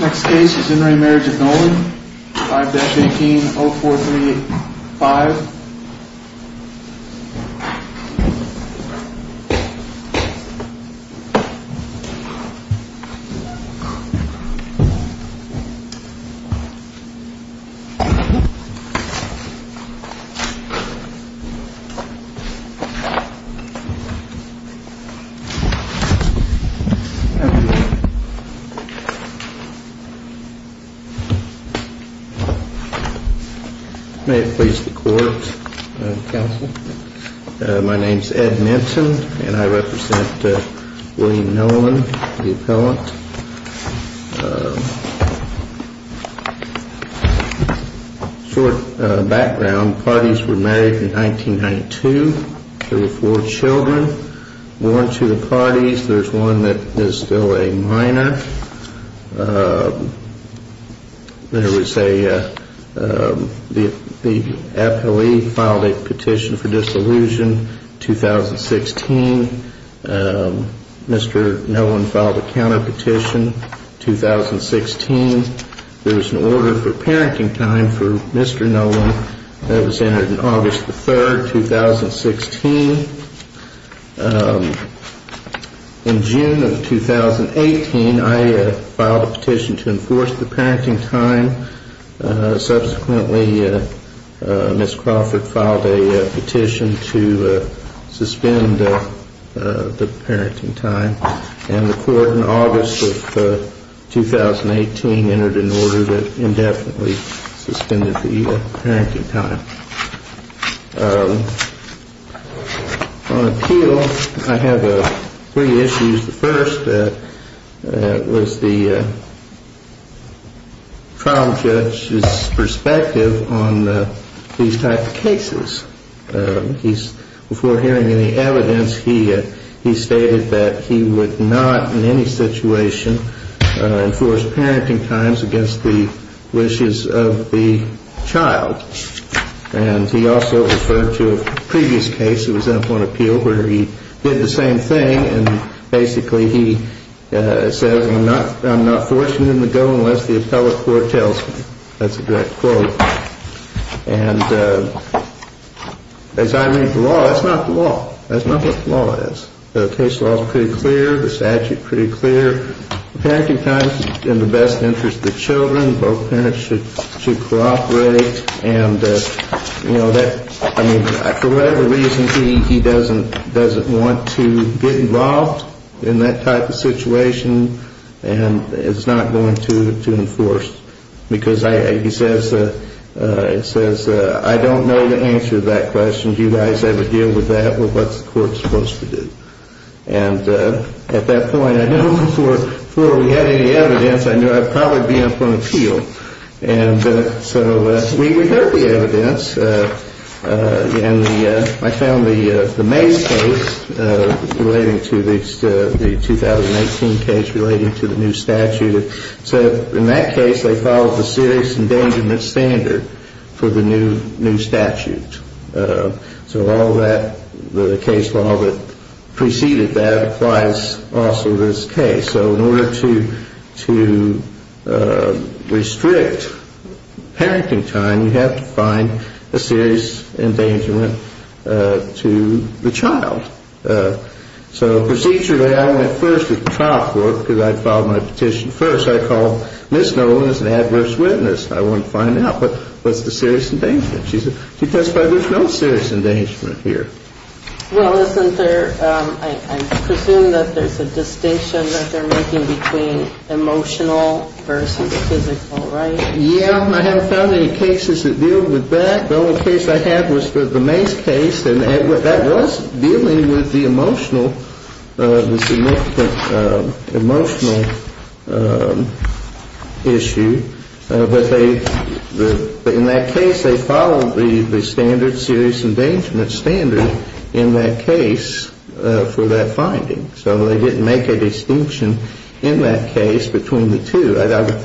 Next case is In Re Marriage of Nolen, 5-18-0435 May it please the Court, Madam Counsel. My name is Ed Minton and I represent William Nolen, the appellant. Short background, the parties were married in 1992. There were four children born to the parties. There is one that is still a minor. There was a, the appellee filed a petition for dissolution in 2016. Mr. Nolen filed a counterpetition in 2016. There is an order for parenting time for Mr. Nolen that was entered in August 3, 2016. In June of 2018, I filed a petition to enforce the parenting time. Subsequently, Ms. Crawford filed a petition to suspend the parenting time. And the court in August of 2018 entered an order that indefinitely suspended the parenting time. On appeal, I have three issues. The first was the trial judge's perspective on these type of cases. Before hearing any evidence, he stated that he would not in any situation enforce parenting times against the wishes of the child. And he also referred to a previous case, it was in a point of appeal, where he did the same thing. And basically he said, I'm not forcing him to go unless the appellate court tells me. That's a direct quote. And as I read the law, that's not the law. That's not what the law is. The case law is pretty clear. The statute is pretty clear. Parenting time is in the best interest of the children. Both parents should cooperate. And for whatever reason, he doesn't want to get involved in that type of situation. And it's not going to enforce. Because he says, I don't know the answer to that question. Do you guys ever deal with that? Well, what's the court supposed to do? And at that point, before we had any evidence, I knew I'd probably be up on appeal. And so we heard the evidence. And I found the May case relating to the 2018 case relating to the new statute. So in that case, they followed the serious endangerment standard for the new statute. So all that, the case law that preceded that applies also to this case. So in order to restrict parenting time, you have to find a serious endangerment to the child. So procedurally, I went first at the trial court because I'd filed my petition first. I called Ms. Nolan as an adverse witness. I wanted to find out what's the serious endangerment. She testified there's no serious endangerment here. Well, isn't there, I presume that there's a distinction that they're making between emotional versus physical, right? Yeah, I haven't found any cases that deal with that. The only case I had was the May case. And that was dealing with the emotional, the significant emotional issue. But in that case, they followed the standard, serious endangerment standard, in that case for that finding. So they didn't make a distinction in that case between the two. I would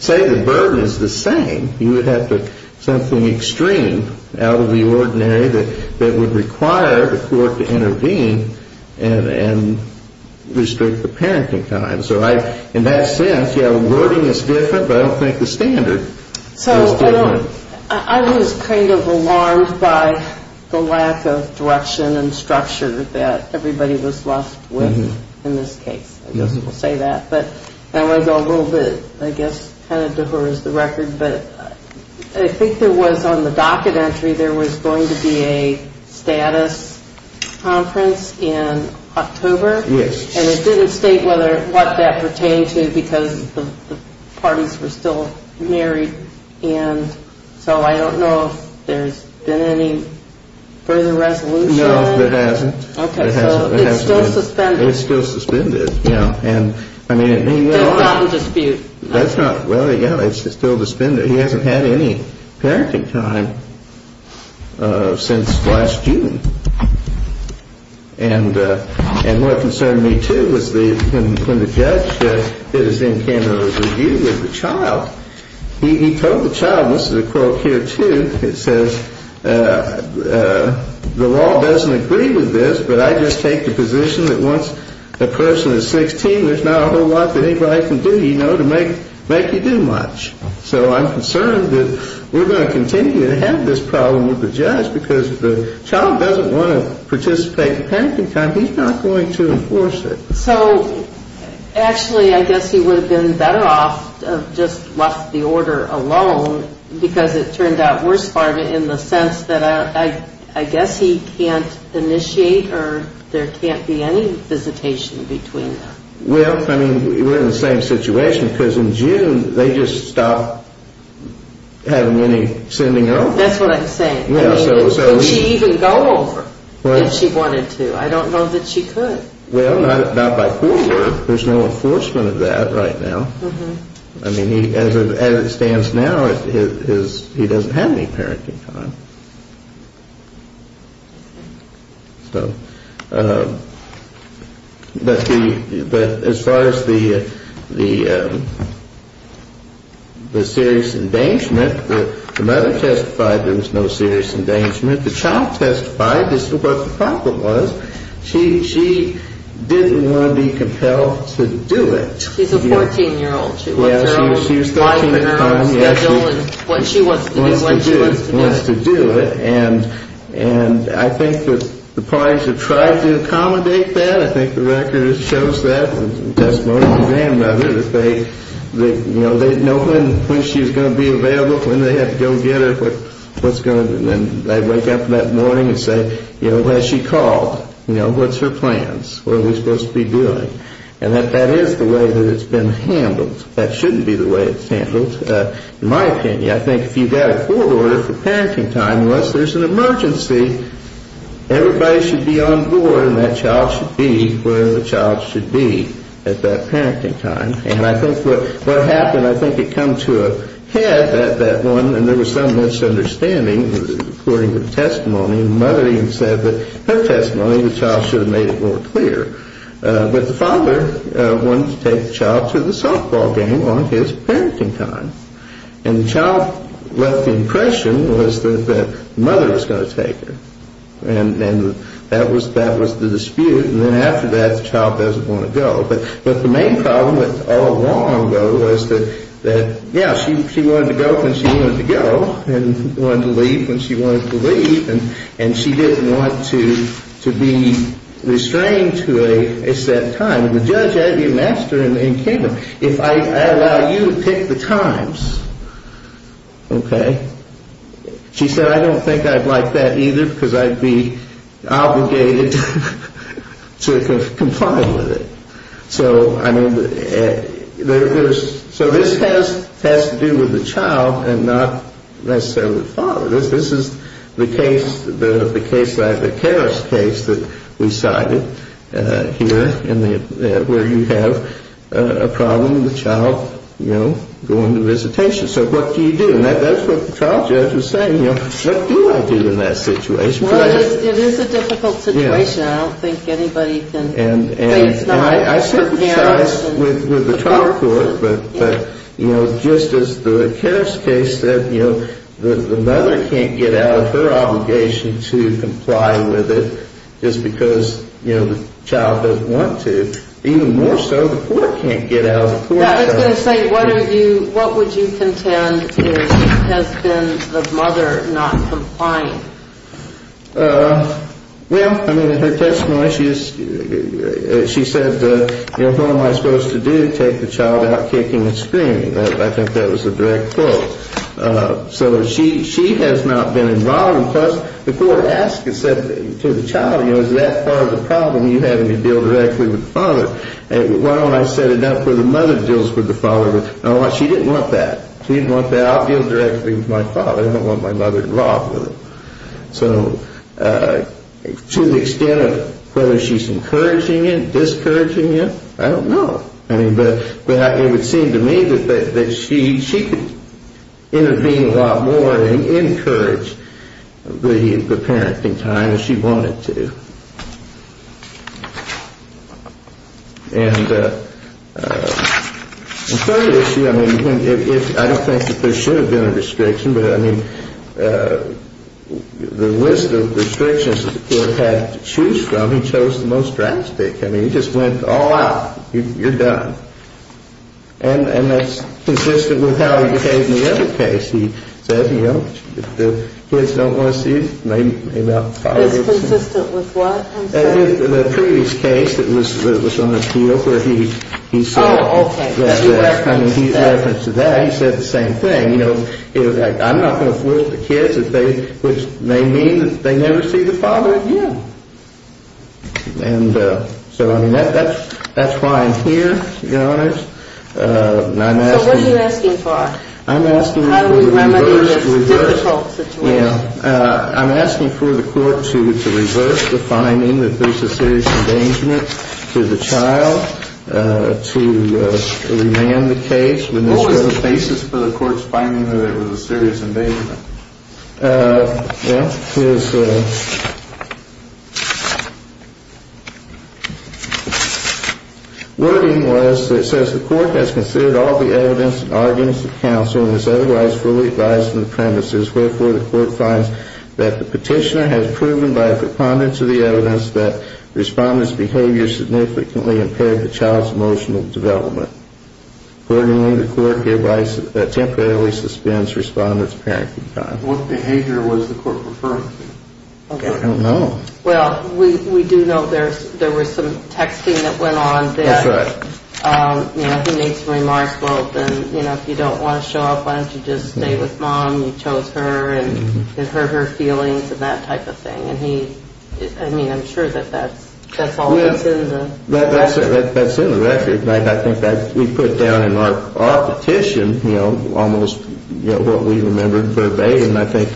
say the burden is the same. You would have something extreme out of the ordinary that would require the court to intervene and restrict the parenting time. So in that sense, yeah, the wording is different, but I don't think the standard is different. So I was kind of alarmed by the lack of direction and structure that everybody was left with in this case. I guess we'll say that. But I want to go a little bit, I guess, kind of to her as the record. But I think there was on the docket entry there was going to be a status conference in October. Yes. And it didn't state what that pertained to because the parties were still married. And so I don't know if there's been any further resolution. No, there hasn't. Okay. So it's still suspended. It's still suspended, yeah. That's not in dispute. That's not, well, yeah, it's still suspended. He hasn't had any parenting time since last June. And what concerned me, too, was when the judge did his in-candidate review with the child, he told the child, this is a quote here, too, it says, the law doesn't agree with this, but I just take the position that once a person is 16, there's not a whole lot that anybody can do, you know, to make you do much. So I'm concerned that we're going to continue to have this problem with the judge because the child doesn't want to participate in parenting time. He's not going to enforce it. So actually I guess he would have been better off just left the order alone because it turned out worse for him in the sense that I guess he can't initiate or there can't be any visitation between them. Well, I mean, we're in the same situation because in June they just stopped having any sending her over. That's what I'm saying. I mean, could she even go over if she wanted to? I don't know that she could. Well, not by court order. There's no enforcement of that right now. I mean, as it stands now, he doesn't have any parenting time. So as far as the serious endangerment, the mother testified there was no serious endangerment. The child testified this is what the problem was. She didn't want to be compelled to do it. She's a 14-year-old. She was 13 at the time. What she wants to do is what she wants to do. And I think that the parties have tried to accommodate that. I think the record shows that. Testimony from the grandmother that they know when she's going to be available, when they have to go get her, what's going to be. And they wake up that morning and say, you know, has she called? You know, what's her plans? What are we supposed to be doing? And that that is the way that it's been handled. That shouldn't be the way it's handled. In my opinion, I think if you've got a court order for parenting time, unless there's an emergency, everybody should be on board and that child should be where the child should be at that parenting time. And I think what happened, I think it come to a head, that one, and there was some misunderstanding according to the testimony. The mother even said that her testimony, the child should have made it more clear. But the father wanted to take the child to the softball game on his parenting time. And the child left the impression was that the mother was going to take her. And that was the dispute. And then after that, the child doesn't want to go. But the main problem all along, though, was that, yeah, she wanted to go when she wanted to go and wanted to leave when she wanted to leave. And and she didn't want to to be restrained to a set time. And the judge, as your master in the kingdom, if I allow you to pick the times, OK, she said, I don't think I'd like that either because I'd be obligated to comply with it. So I mean, there's so this has to do with the child and not necessarily the father. This is the case, the case like the terrorist case that we cited here in the where you have a problem. The child, you know, going to visitation. So what do you do? And that's what the trial judge was saying. You know, what do I do in that situation? Well, it is a difficult situation. I don't think anybody can. I sympathize with the child, but, you know, just as the terrorist case that, you know, the mother can't get out of her obligation to comply with it just because, you know, the child doesn't want to. Even more so, the court can't get out of court. I was going to say, what are you what would you contend has been the mother not complying? Well, I mean, in her testimony, she said, you know, what am I supposed to do to take the child out kicking and screaming? I think that was a direct quote. So she she has not been involved. Plus, the court asked and said to the child, you know, is that part of the problem you having to deal directly with the father? Why don't I set it up where the mother deals with the father? She didn't want that. She didn't want that. I'll deal directly with my father. I don't want my mother involved with it. So to the extent of whether she's encouraging it, discouraging it, I don't know. I mean, but it would seem to me that she could intervene a lot more and encourage the parenting time if she wanted to. And the third issue, I mean, I don't think that there should have been a restriction, but I mean, the list of restrictions that the court had to choose from, he chose the most drastic. I mean, he just went all out. You're done. And that's consistent with how he behaved in the other case. He said, you know, the kids don't want to see their father. It's consistent with what? The previous case that was on appeal where he said. Oh, OK. He referenced that. He referenced that. He said the same thing. You know, I'm not going to force the kids, which may mean that they never see the father again. And so, I mean, that's why I'm here, Your Honors. So what are you asking for? I'm asking for the court to reverse the finding that there's a serious endangerment to the child, to remand the case. What was the basis for the court's finding that it was a serious endangerment? Well, his wording was, it says, the court has considered all the evidence and arguments of counsel and is otherwise fully advised on the premises. Wherefore, the court finds that the petitioner has proven by a preponderance of the evidence that the respondent's behavior significantly impaired the child's emotional development. Accordingly, the court gave temporarily suspends respondent's parenting time. What behavior was the court referring to? I don't know. Well, we do know there was some texting that went on. That's right. You know, he made some remarks about, you know, if you don't want to show up, why don't you just stay with mom? You chose her and hurt her feelings and that type of thing. I mean, I'm sure that that's all that's in the record. That's in the record. I think that we put down in our petition, you know, almost what we remembered verbatim. I think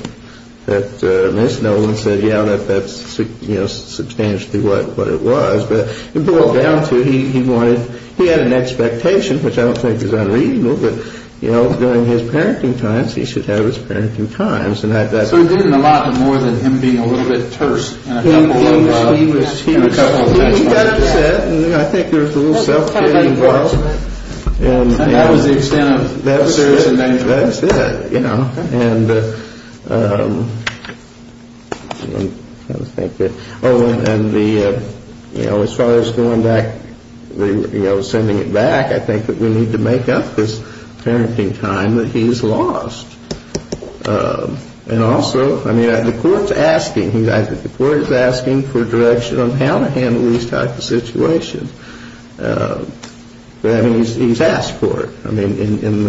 that Ms. Nolan said, yeah, that that's substantially what it was. But it boiled down to he had an expectation, which I don't think is unreasonable, but, you know, during his parenting times, he should have his parenting times. So he did it a lot more than him being a little bit terse. He got upset, and I think there was a little self-care involved. And that was the extent of the serious endangerment. That's it, you know. And, you know, as far as going back, you know, sending it back, I think that we need to make up this parenting time that he's lost. And also, I mean, the court's asking. I think the court is asking for direction on how to handle these type of situations. I mean, he's asked for it, I mean, in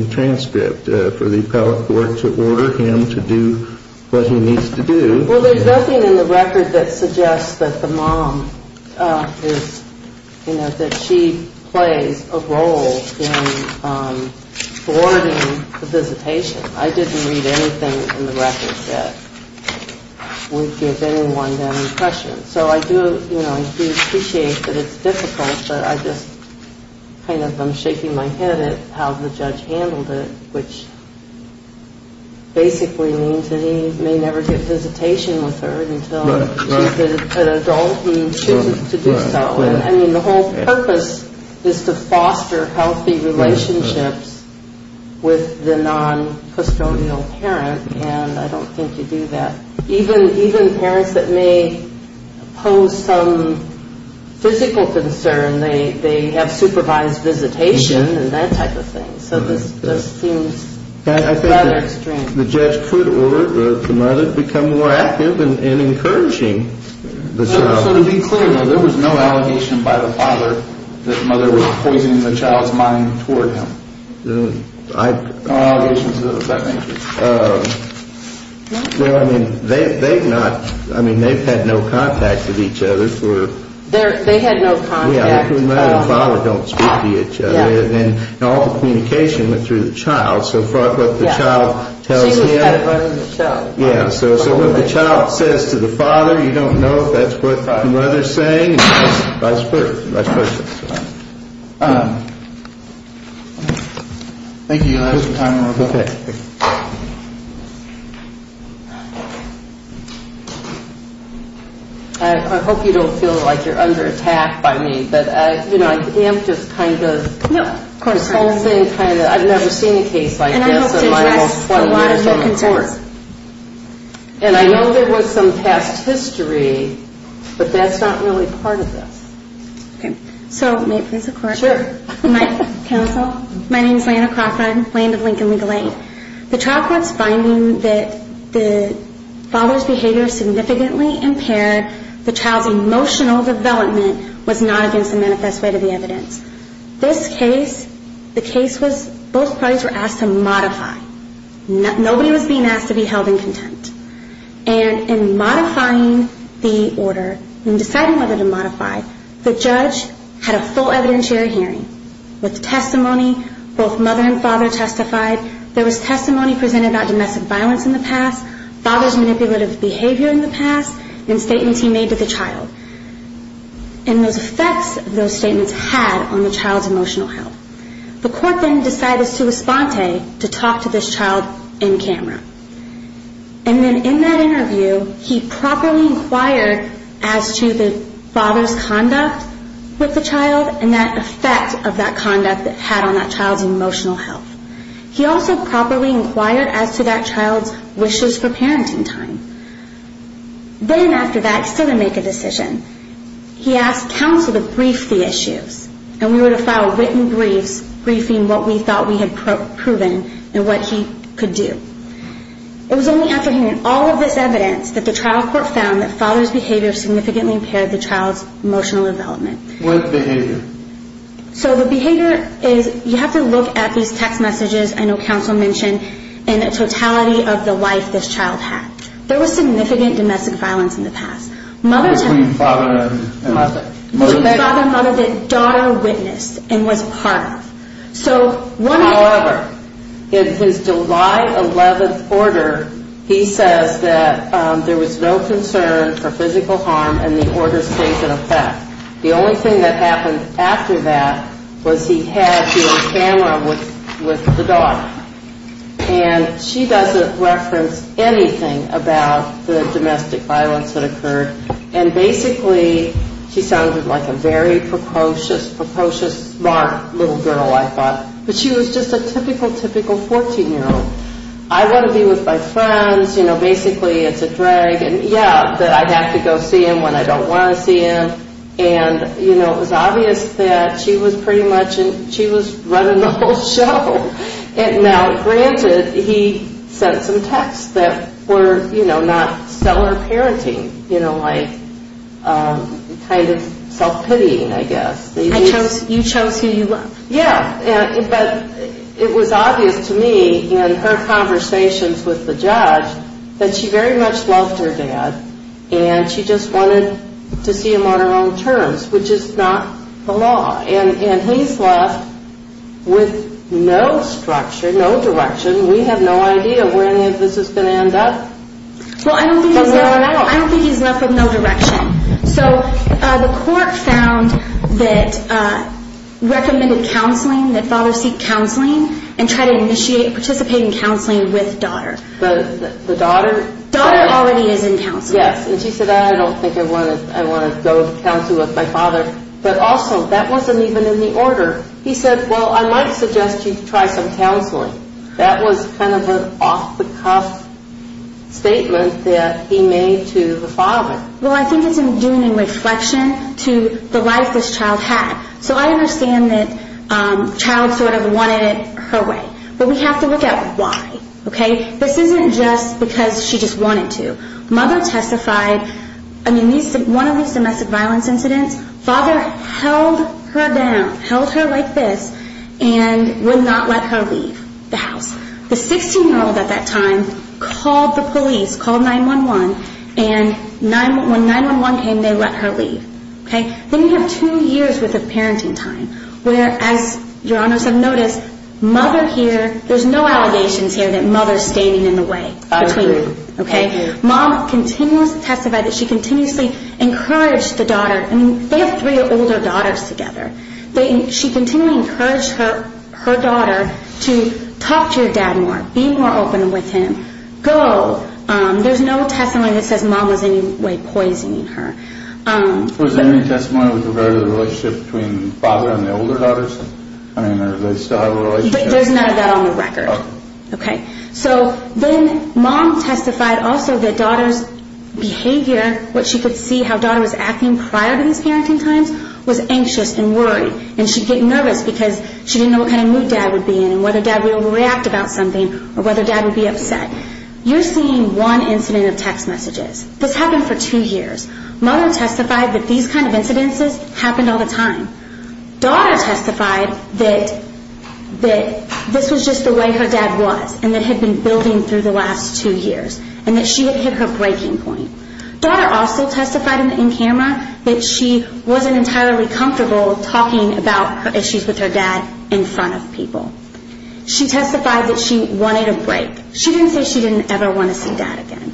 the transcript, for the appellate court to order him to do what he needs to do. Well, there's nothing in the record that suggests that the mom is, you know, that she plays a role in forwarding the visitation. I didn't read anything in the record that would give anyone that impression. So I do, you know, appreciate that it's difficult, but I just kind of am shaking my head at how the judge handled it, which basically means that he may never get visitation with her until she's an adult. He chooses to do so. I mean, the whole purpose is to foster healthy relationships with the noncustodial parent, and I don't think you do that. Even parents that may pose some physical concern, they have supervised visitation and that type of thing. So this seems rather extreme. I think the judge could order the mother to become more active in encouraging the child. So to be clear, though, there was no allegation by the father that the mother was poisoning the child's mind toward him? No allegations of that nature. Well, I mean, they've not. I mean, they've had no contact with each other for. They had no contact. Yeah, it doesn't matter if the father don't speak to each other. All the communication went through the child. So what the child says to the father, you don't know if that's what the mother's saying, and vice versa. Thank you, guys, for your time. I hope you don't feel like you're under attack by me. No, of course not. I've never seen a case like this in my almost 12 years on the court. And I hope to address a lot of your concerns. And I know there was some past history, but that's not really part of this. Okay. So may it please the Court? Sure. Counsel, my name is Lana Crawford, land of Lincoln Legal Aid. The trial court's finding that the father's behavior significantly impaired the child's emotional development was not against the manifest way to the evidence. This case, the case was both parties were asked to modify. Nobody was being asked to be held in contempt. And in modifying the order, in deciding whether to modify, the judge had a full evidentiary hearing with testimony. Both mother and father testified. There was testimony presented about domestic violence in the past, father's manipulative behavior in the past, and statements he made to the child. And those effects those statements had on the child's emotional health. The court then decided as to respond to talk to this child in camera. And then in that interview, he properly inquired as to the father's conduct with the child and that effect of that conduct that had on that child's emotional health. He also properly inquired as to that child's wishes for parenting time. Then after that, he still didn't make a decision. He asked counsel to brief the issues. And we were to file written briefs, briefing what we thought we had proven and what he could do. It was only after hearing all of this evidence that the trial court found that father's behavior significantly impaired the child's emotional development. What behavior? So the behavior is, you have to look at these text messages I know counsel mentioned and the totality of the life this child had. There was significant domestic violence in the past. Between father and mother. Between father and mother that daughter witnessed and was part of. However, in his July 11th order, he says that there was no concern for physical harm and the order stays in effect. The only thing that happened after that was he had to be on camera with the daughter. And she doesn't reference anything about the domestic violence that occurred. And basically she sounded like a very precocious, precocious, smart little girl I thought. But she was just a typical, typical 14-year-old. I want to be with my friends. You know, basically it's a drag. Yeah, that I'd have to go see him when I don't want to see him. And, you know, it was obvious that she was pretty much, she was running the whole show. And now, granted, he sent some texts that were, you know, not stellar parenting. You know, like kind of self-pitying, I guess. You chose who you loved. Yeah, but it was obvious to me in her conversations with the judge that she very much loved her dad and she just wanted to see him on her own terms, which is not the law. And he's left with no structure, no direction. We have no idea where this is going to end up. Well, I don't think he's left with no direction. So the court found that recommended counseling, that fathers seek counseling and try to initiate participating counseling with daughter. The daughter? Daughter already is in counseling. Yes, and she said, I don't think I want to go to counseling with my father. But also, that wasn't even in the order. He said, well, I might suggest you try some counseling. That was kind of an off-the-cuff statement that he made to the father. Well, I think it's in doing a reflection to the life this child had. So I understand that child sort of wanted it her way. But we have to look at why, okay? This isn't just because she just wanted to. Mother testified, I mean, one of these domestic violence incidents, father held her down, held her like this, and would not let her leave the house. The 16-year-old at that time called the police, called 911, and when 911 came, they let her leave. Then you have two years worth of parenting time where, as Your Honors have noticed, mother here, there's no allegations here that mother's standing in the way. I agree. Okay? Mom continues to testify that she continuously encouraged the daughter. I mean, they have three older daughters together. She continually encouraged her daughter to talk to your dad more, be more open with him, go. There's no testimony that says mom was in any way poisoning her. Was there any testimony with regard to the relationship between father and the older daughters? I mean, did they still have a relationship? There's none of that on the record. Okay. So then mom testified also that daughter's behavior, what she could see how daughter was acting prior to these parenting times, was anxious and worried. And she'd get nervous because she didn't know what kind of mood dad would be in and whether dad would react about something or whether dad would be upset. You're seeing one incident of text messages. This happened for two years. Mother testified that these kind of incidences happened all the time. Daughter testified that this was just the way her dad was and that had been building through the last two years and that she had hit her breaking point. Daughter also testified in camera that she wasn't entirely comfortable talking about her issues with her dad in front of people. She testified that she wanted a break. She didn't say she didn't ever want to see dad again.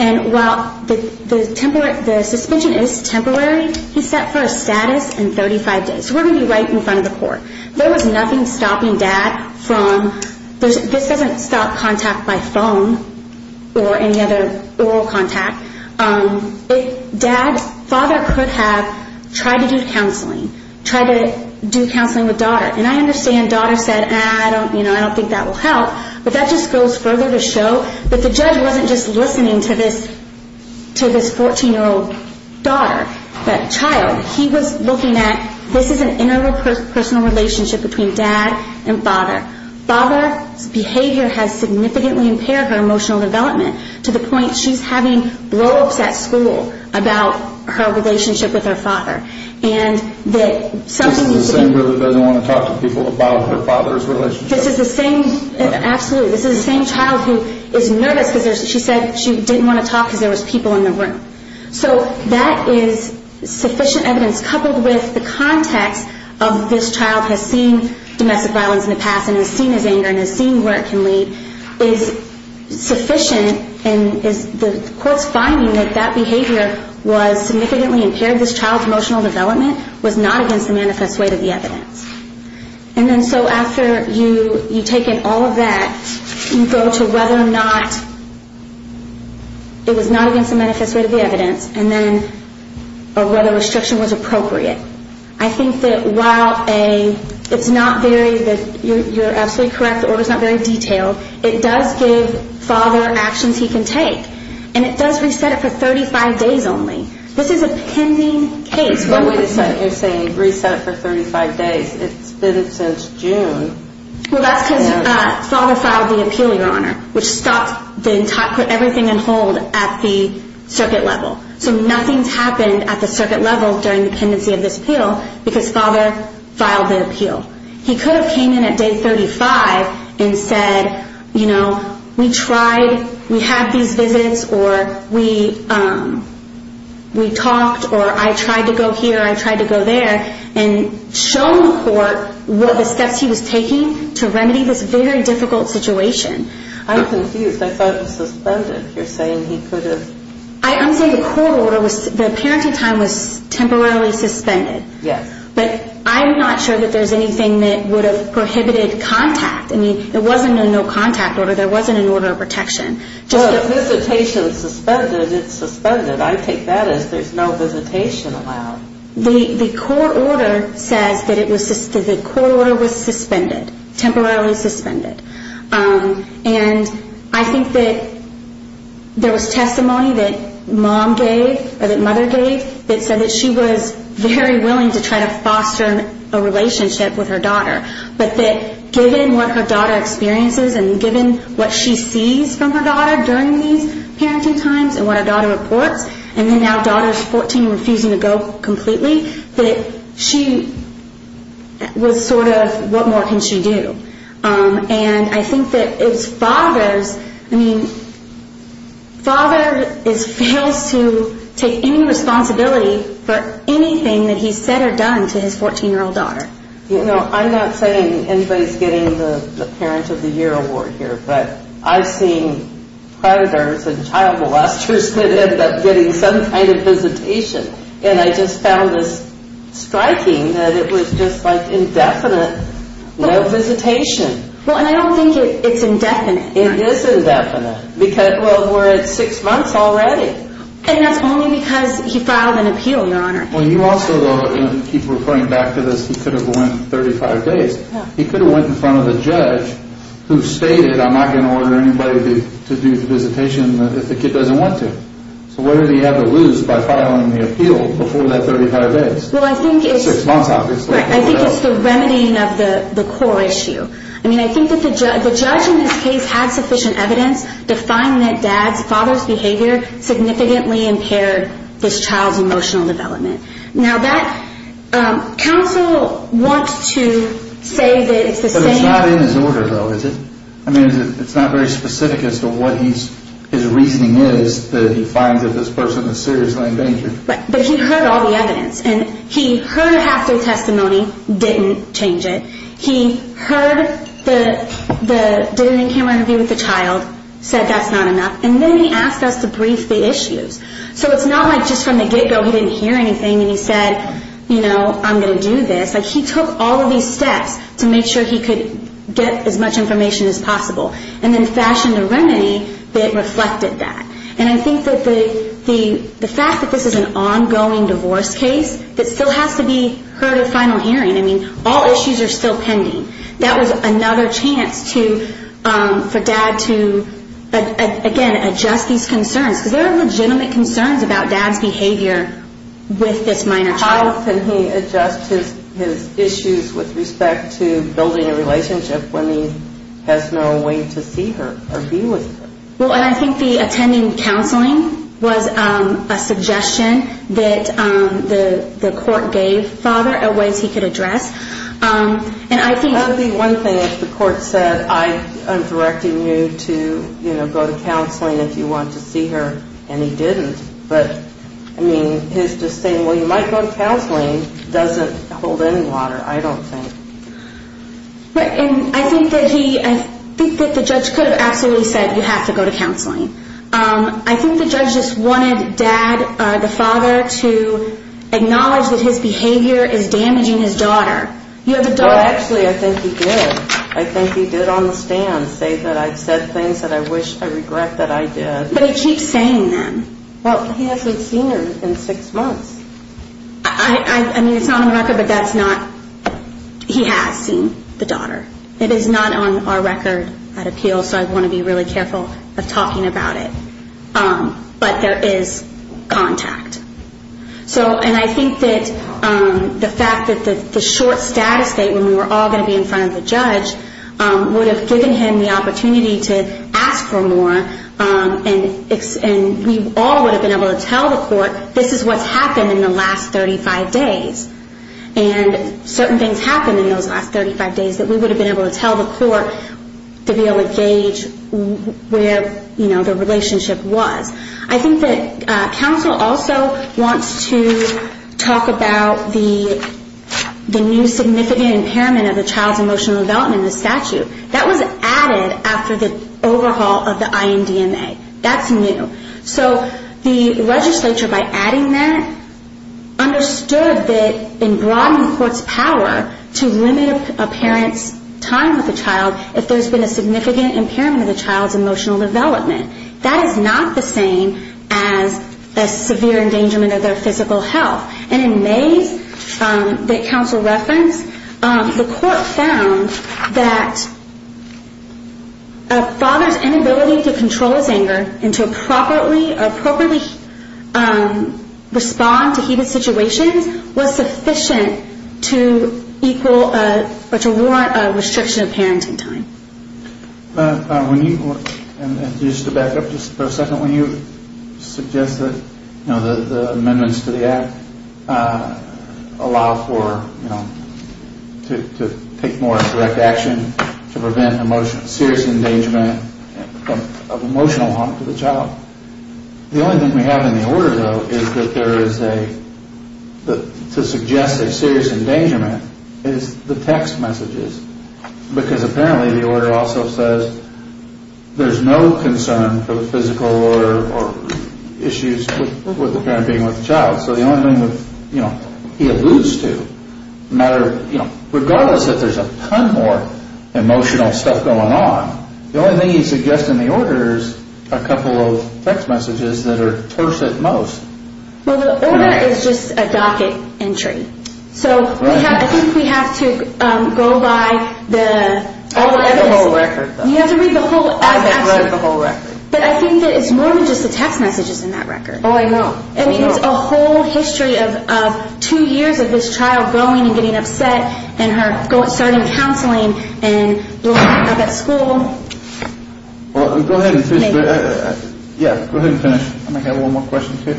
And while the suspension is temporary, he's set for a status in 35 days. So we're going to be right in front of the court. There was nothing stopping dad from – this doesn't stop contact by phone or any other oral contact. Dad's father could have tried to do counseling, tried to do counseling with daughter. And I understand daughter said, I don't think that will help, but that just goes further to show that the judge wasn't just listening to this 14-year-old daughter, that child, he was looking at, this is an internal personal relationship between dad and father. Father's behavior has significantly impaired her emotional development to the point she's having blow-ups at school about her relationship with her father. And that something is – This is the same girl that doesn't want to talk to people about her father's relationship. This is the same – absolutely. This is the same child who is nervous because she said she didn't want to talk because there was people in the room. So that is sufficient evidence coupled with the context of this child has seen domestic violence in the past and has seen his anger and has seen where it can lead is sufficient and the court's finding that that behavior was significantly impaired this child's emotional development was not against the manifest weight of the evidence. And then so after you take in all of that, you go to whether or not it was not against the manifest weight of the evidence and then whether restriction was appropriate. I think that while it's not very – you're absolutely correct, the order's not very detailed, it does give father actions he can take. And it does reset it for 35 days only. This is a pending case. But wait a second, you're saying reset it for 35 days. It's been since June. Well, that's because father filed the appeal, Your Honor, which stopped – put everything on hold at the circuit level. So nothing's happened at the circuit level during the pendency of this appeal because father filed the appeal. He could have came in at day 35 and said, you know, we tried, we had these visits, or we talked, or I tried to go here, I tried to go there, and shown the court what the steps he was taking to remedy this very difficult situation. I'm confused. I thought it was suspended. You're saying he could have – I'm saying the court order was – the parenting time was temporarily suspended. Yes. But I'm not sure that there's anything that would have prohibited contact. I mean, it wasn't a no-contact order. There wasn't an order of protection. Well, if visitation is suspended, it's suspended. I take that as there's no visitation allowed. The court order says that it was – the court order was suspended, temporarily suspended. And I think that there was testimony that mom gave or that mother gave that said that she was very willing to try to foster a relationship with her daughter, but that given what her daughter experiences and given what she sees from her daughter during these parenting times and what her daughter reports, and then now daughter's 14 and refusing to go completely, that she was sort of, what more can she do? And I think that it's father's – I mean, father fails to take any responsibility for anything that he's said or done to his 14-year-old daughter. You know, I'm not saying anybody's getting the parent of the year award here, but I've seen predators and child molesters that end up getting some kind of visitation. And I just found this striking that it was just like indefinite, no visitation. Well, and I don't think it's indefinite. It is indefinite because, well, we're at six months already. And that's only because he filed an appeal, Your Honor. Well, you also, though, keep referring back to this, he could have went 35 days. He could have went in front of the judge who stated, I'm not going to order anybody to do the visitation if the kid doesn't want to. So what did he have to lose by filing the appeal before that 35 days? Well, I think it's the remedying of the core issue. I mean, I think that the judge in this case had sufficient evidence to find that dad's father's behavior significantly impaired this child's emotional development. Now, counsel wants to say that it's the same. But it's not in his order, though, is it? I mean, it's not very specific as to what his reasoning is that he finds that this person is seriously endangered. But he heard all the evidence. And he heard a half-day testimony, didn't change it. He did an in-camera interview with the child, said that's not enough. And then he asked us to brief the issues. So it's not like just from the get-go he didn't hear anything and he said, you know, I'm going to do this. Like, he took all of these steps to make sure he could get as much information as possible and then fashioned a remedy that reflected that. And I think that the fact that this is an ongoing divorce case that still has to be heard at final hearing. I mean, all issues are still pending. That was another chance for dad to, again, adjust these concerns. Because there are legitimate concerns about dad's behavior with this minor child. How can he adjust his issues with respect to building a relationship when he has no way to see her or be with her? Well, I think the attending counseling was a suggestion that the court gave father of ways he could address. That would be one thing if the court said, I'm directing you to, you know, go to counseling if you want to see her. And he didn't. But, I mean, his just saying, well, you might go to counseling, doesn't hold any water, I don't think. And I think that he, I think that the judge could have absolutely said, you have to go to counseling. I think the judge just wanted dad, the father, to acknowledge that his behavior is damaging his daughter. Well, actually, I think he did. I think he did on the stand say that I've said things that I wish I regret that I did. But he keeps saying them. Well, he hasn't seen her in six months. I mean, it's not on the record, but that's not, he has seen the daughter. It is not on our record at appeals, so I want to be really careful of talking about it. But there is contact. So, and I think that the fact that the short status date when we were all going to be in front of the judge would have given him the opportunity to ask for more, and we all would have been able to tell the court, this is what's happened in the last 35 days. And certain things happened in those last 35 days that we would have been able to tell the court to be able to gauge where, you know, the relationship was. I think that counsel also wants to talk about the new significant impairment of the child's emotional development in the statute. That was added after the overhaul of the INDMA. That's new. So the legislature, by adding that, understood that in broadening the court's power to limit a parent's time with the child if there's been a significant impairment of the child's emotional development. That is not the same as a severe endangerment of their physical health. And in May's counsel reference, the court found that a father's inability to control his anger and to appropriately respond to heated situations was sufficient to equal or to warrant a restriction of parenting time. And just to back up just for a second, when you suggest that, you know, the amendments to the act allow for, you know, to take more direct action to prevent serious endangerment of emotional harm to the child. The only thing we have in the order, though, is that there is a, to suggest that serious endangerment is the text messages. Because apparently the order also says there's no concern for physical or issues with the parent being with the child. So the only thing that, you know, he alludes to, no matter, you know, regardless if there's a ton more emotional stuff going on, the only thing he suggests in the order is a couple of text messages that are cursed at most. Well, the order is just a docket entry. So I think we have to go by the... I'll read the whole record, though. You have to read the whole... I've read the whole record. But I think that it's more than just the text messages in that record. Oh, I know. I know. I mean, it's a whole history of two years of this child going and getting upset and her starting counseling and blowing up at school. Well, go ahead and finish. Yeah, go ahead and finish. I'm going to have one more question, too.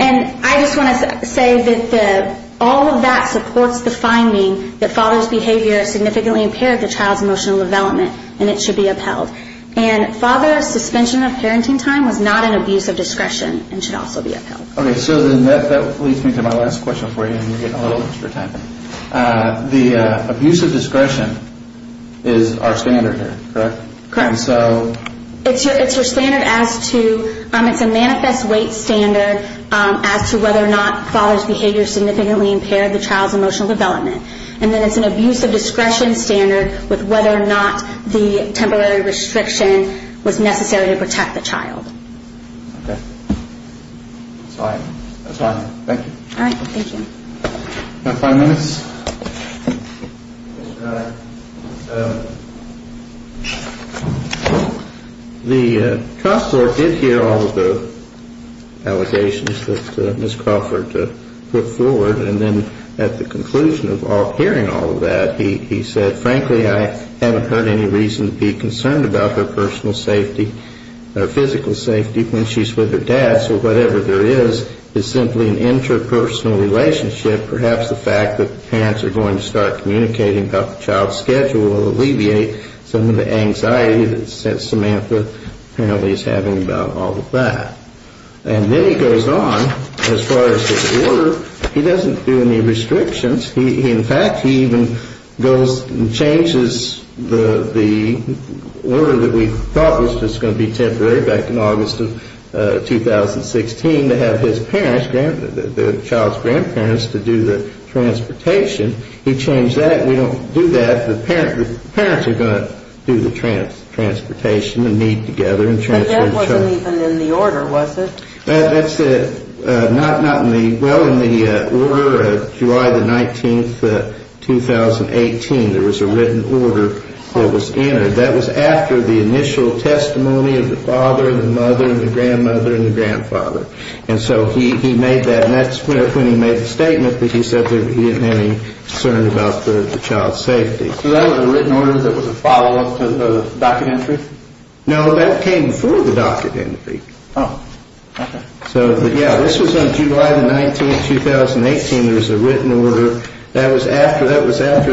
And I just want to say that all of that supports the finding that father's behavior significantly impaired the child's emotional development and it should be upheld. And father's suspension of parenting time was not an abuse of discretion and should also be upheld. Okay, so then that leads me to my last question for you, and you're getting a little extra time. The abuse of discretion is our standard here, correct? Correct. And so... It's your standard as to... It's a manifest weight standard as to whether or not father's behavior significantly impaired the child's emotional development. And then it's an abuse of discretion standard with whether or not the temporary restriction was necessary to protect the child. Okay. That's all I have. That's all I have. Thank you. All right. Thank you. You have five minutes. The trust board did hear all of the allegations that Ms. Crawford put forward, and then at the conclusion of hearing all of that, he said, frankly, I haven't heard any reason to be concerned about her personal safety or physical safety when she's with her dad, so whatever there is is simply an interpersonal relationship. Perhaps the fact that parents are going to start communicating about the child's schedule will alleviate some of the anxiety that Samantha apparently is having about all of that. And then he goes on as far as his order. He doesn't do any restrictions. In fact, he even goes and changes the order that we thought was just going to be temporary back in August of 2016 to have his parents, the child's grandparents, to do the transportation. He changed that. We don't do that. The parents are going to do the transportation and meet together. But that wasn't even in the order, was it? That's not in the order. Well, in the order of July the 19th, 2018, there was a written order that was entered. That was after the initial testimony of the father and the mother and the grandmother and the grandfather. And so he made that, and that's when he made the statement that he said that he didn't have any concern about the child's safety. So that was a written order that was a follow-up to the docket entry? No, that came before the docket entry. Oh, okay. So, yeah, this was on July the 19th, 2018. There was a written order. That was after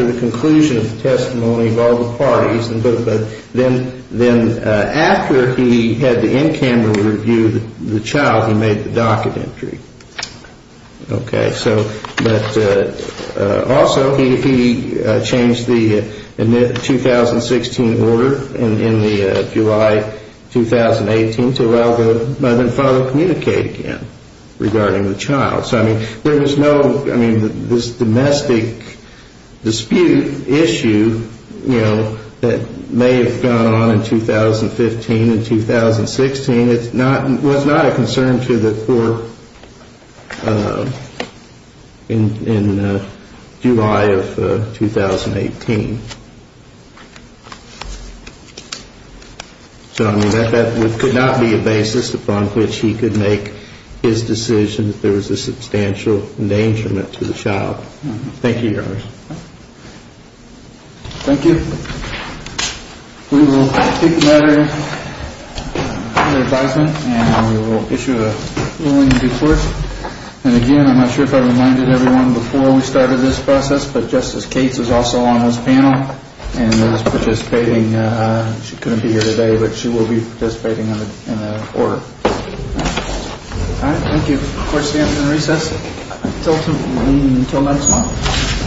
the conclusion of the testimony of all the parties. But then after he had the in-camera review of the child, he made the docket entry. Okay, so, but also he changed the 2016 order in the July 2018 to allow the mother and father to communicate again regarding the child. So, I mean, there was no, I mean, this domestic dispute issue, you know, that may have gone on in 2015 and 2016, was not a concern to the court in July of 2018. So, I mean, that could not be a basis upon which he could make his decision if there was a substantial endangerment to the child. Thank you, Your Honor. Thank you. We will take the matter under advisement and we will issue a ruling in due course. And, again, I'm not sure if I reminded everyone before we started this process, but Justice Cates is also on this panel and is participating. She couldn't be here today, but she will be participating in the order. All right, thank you. Court is adjourned in recess. Until next month.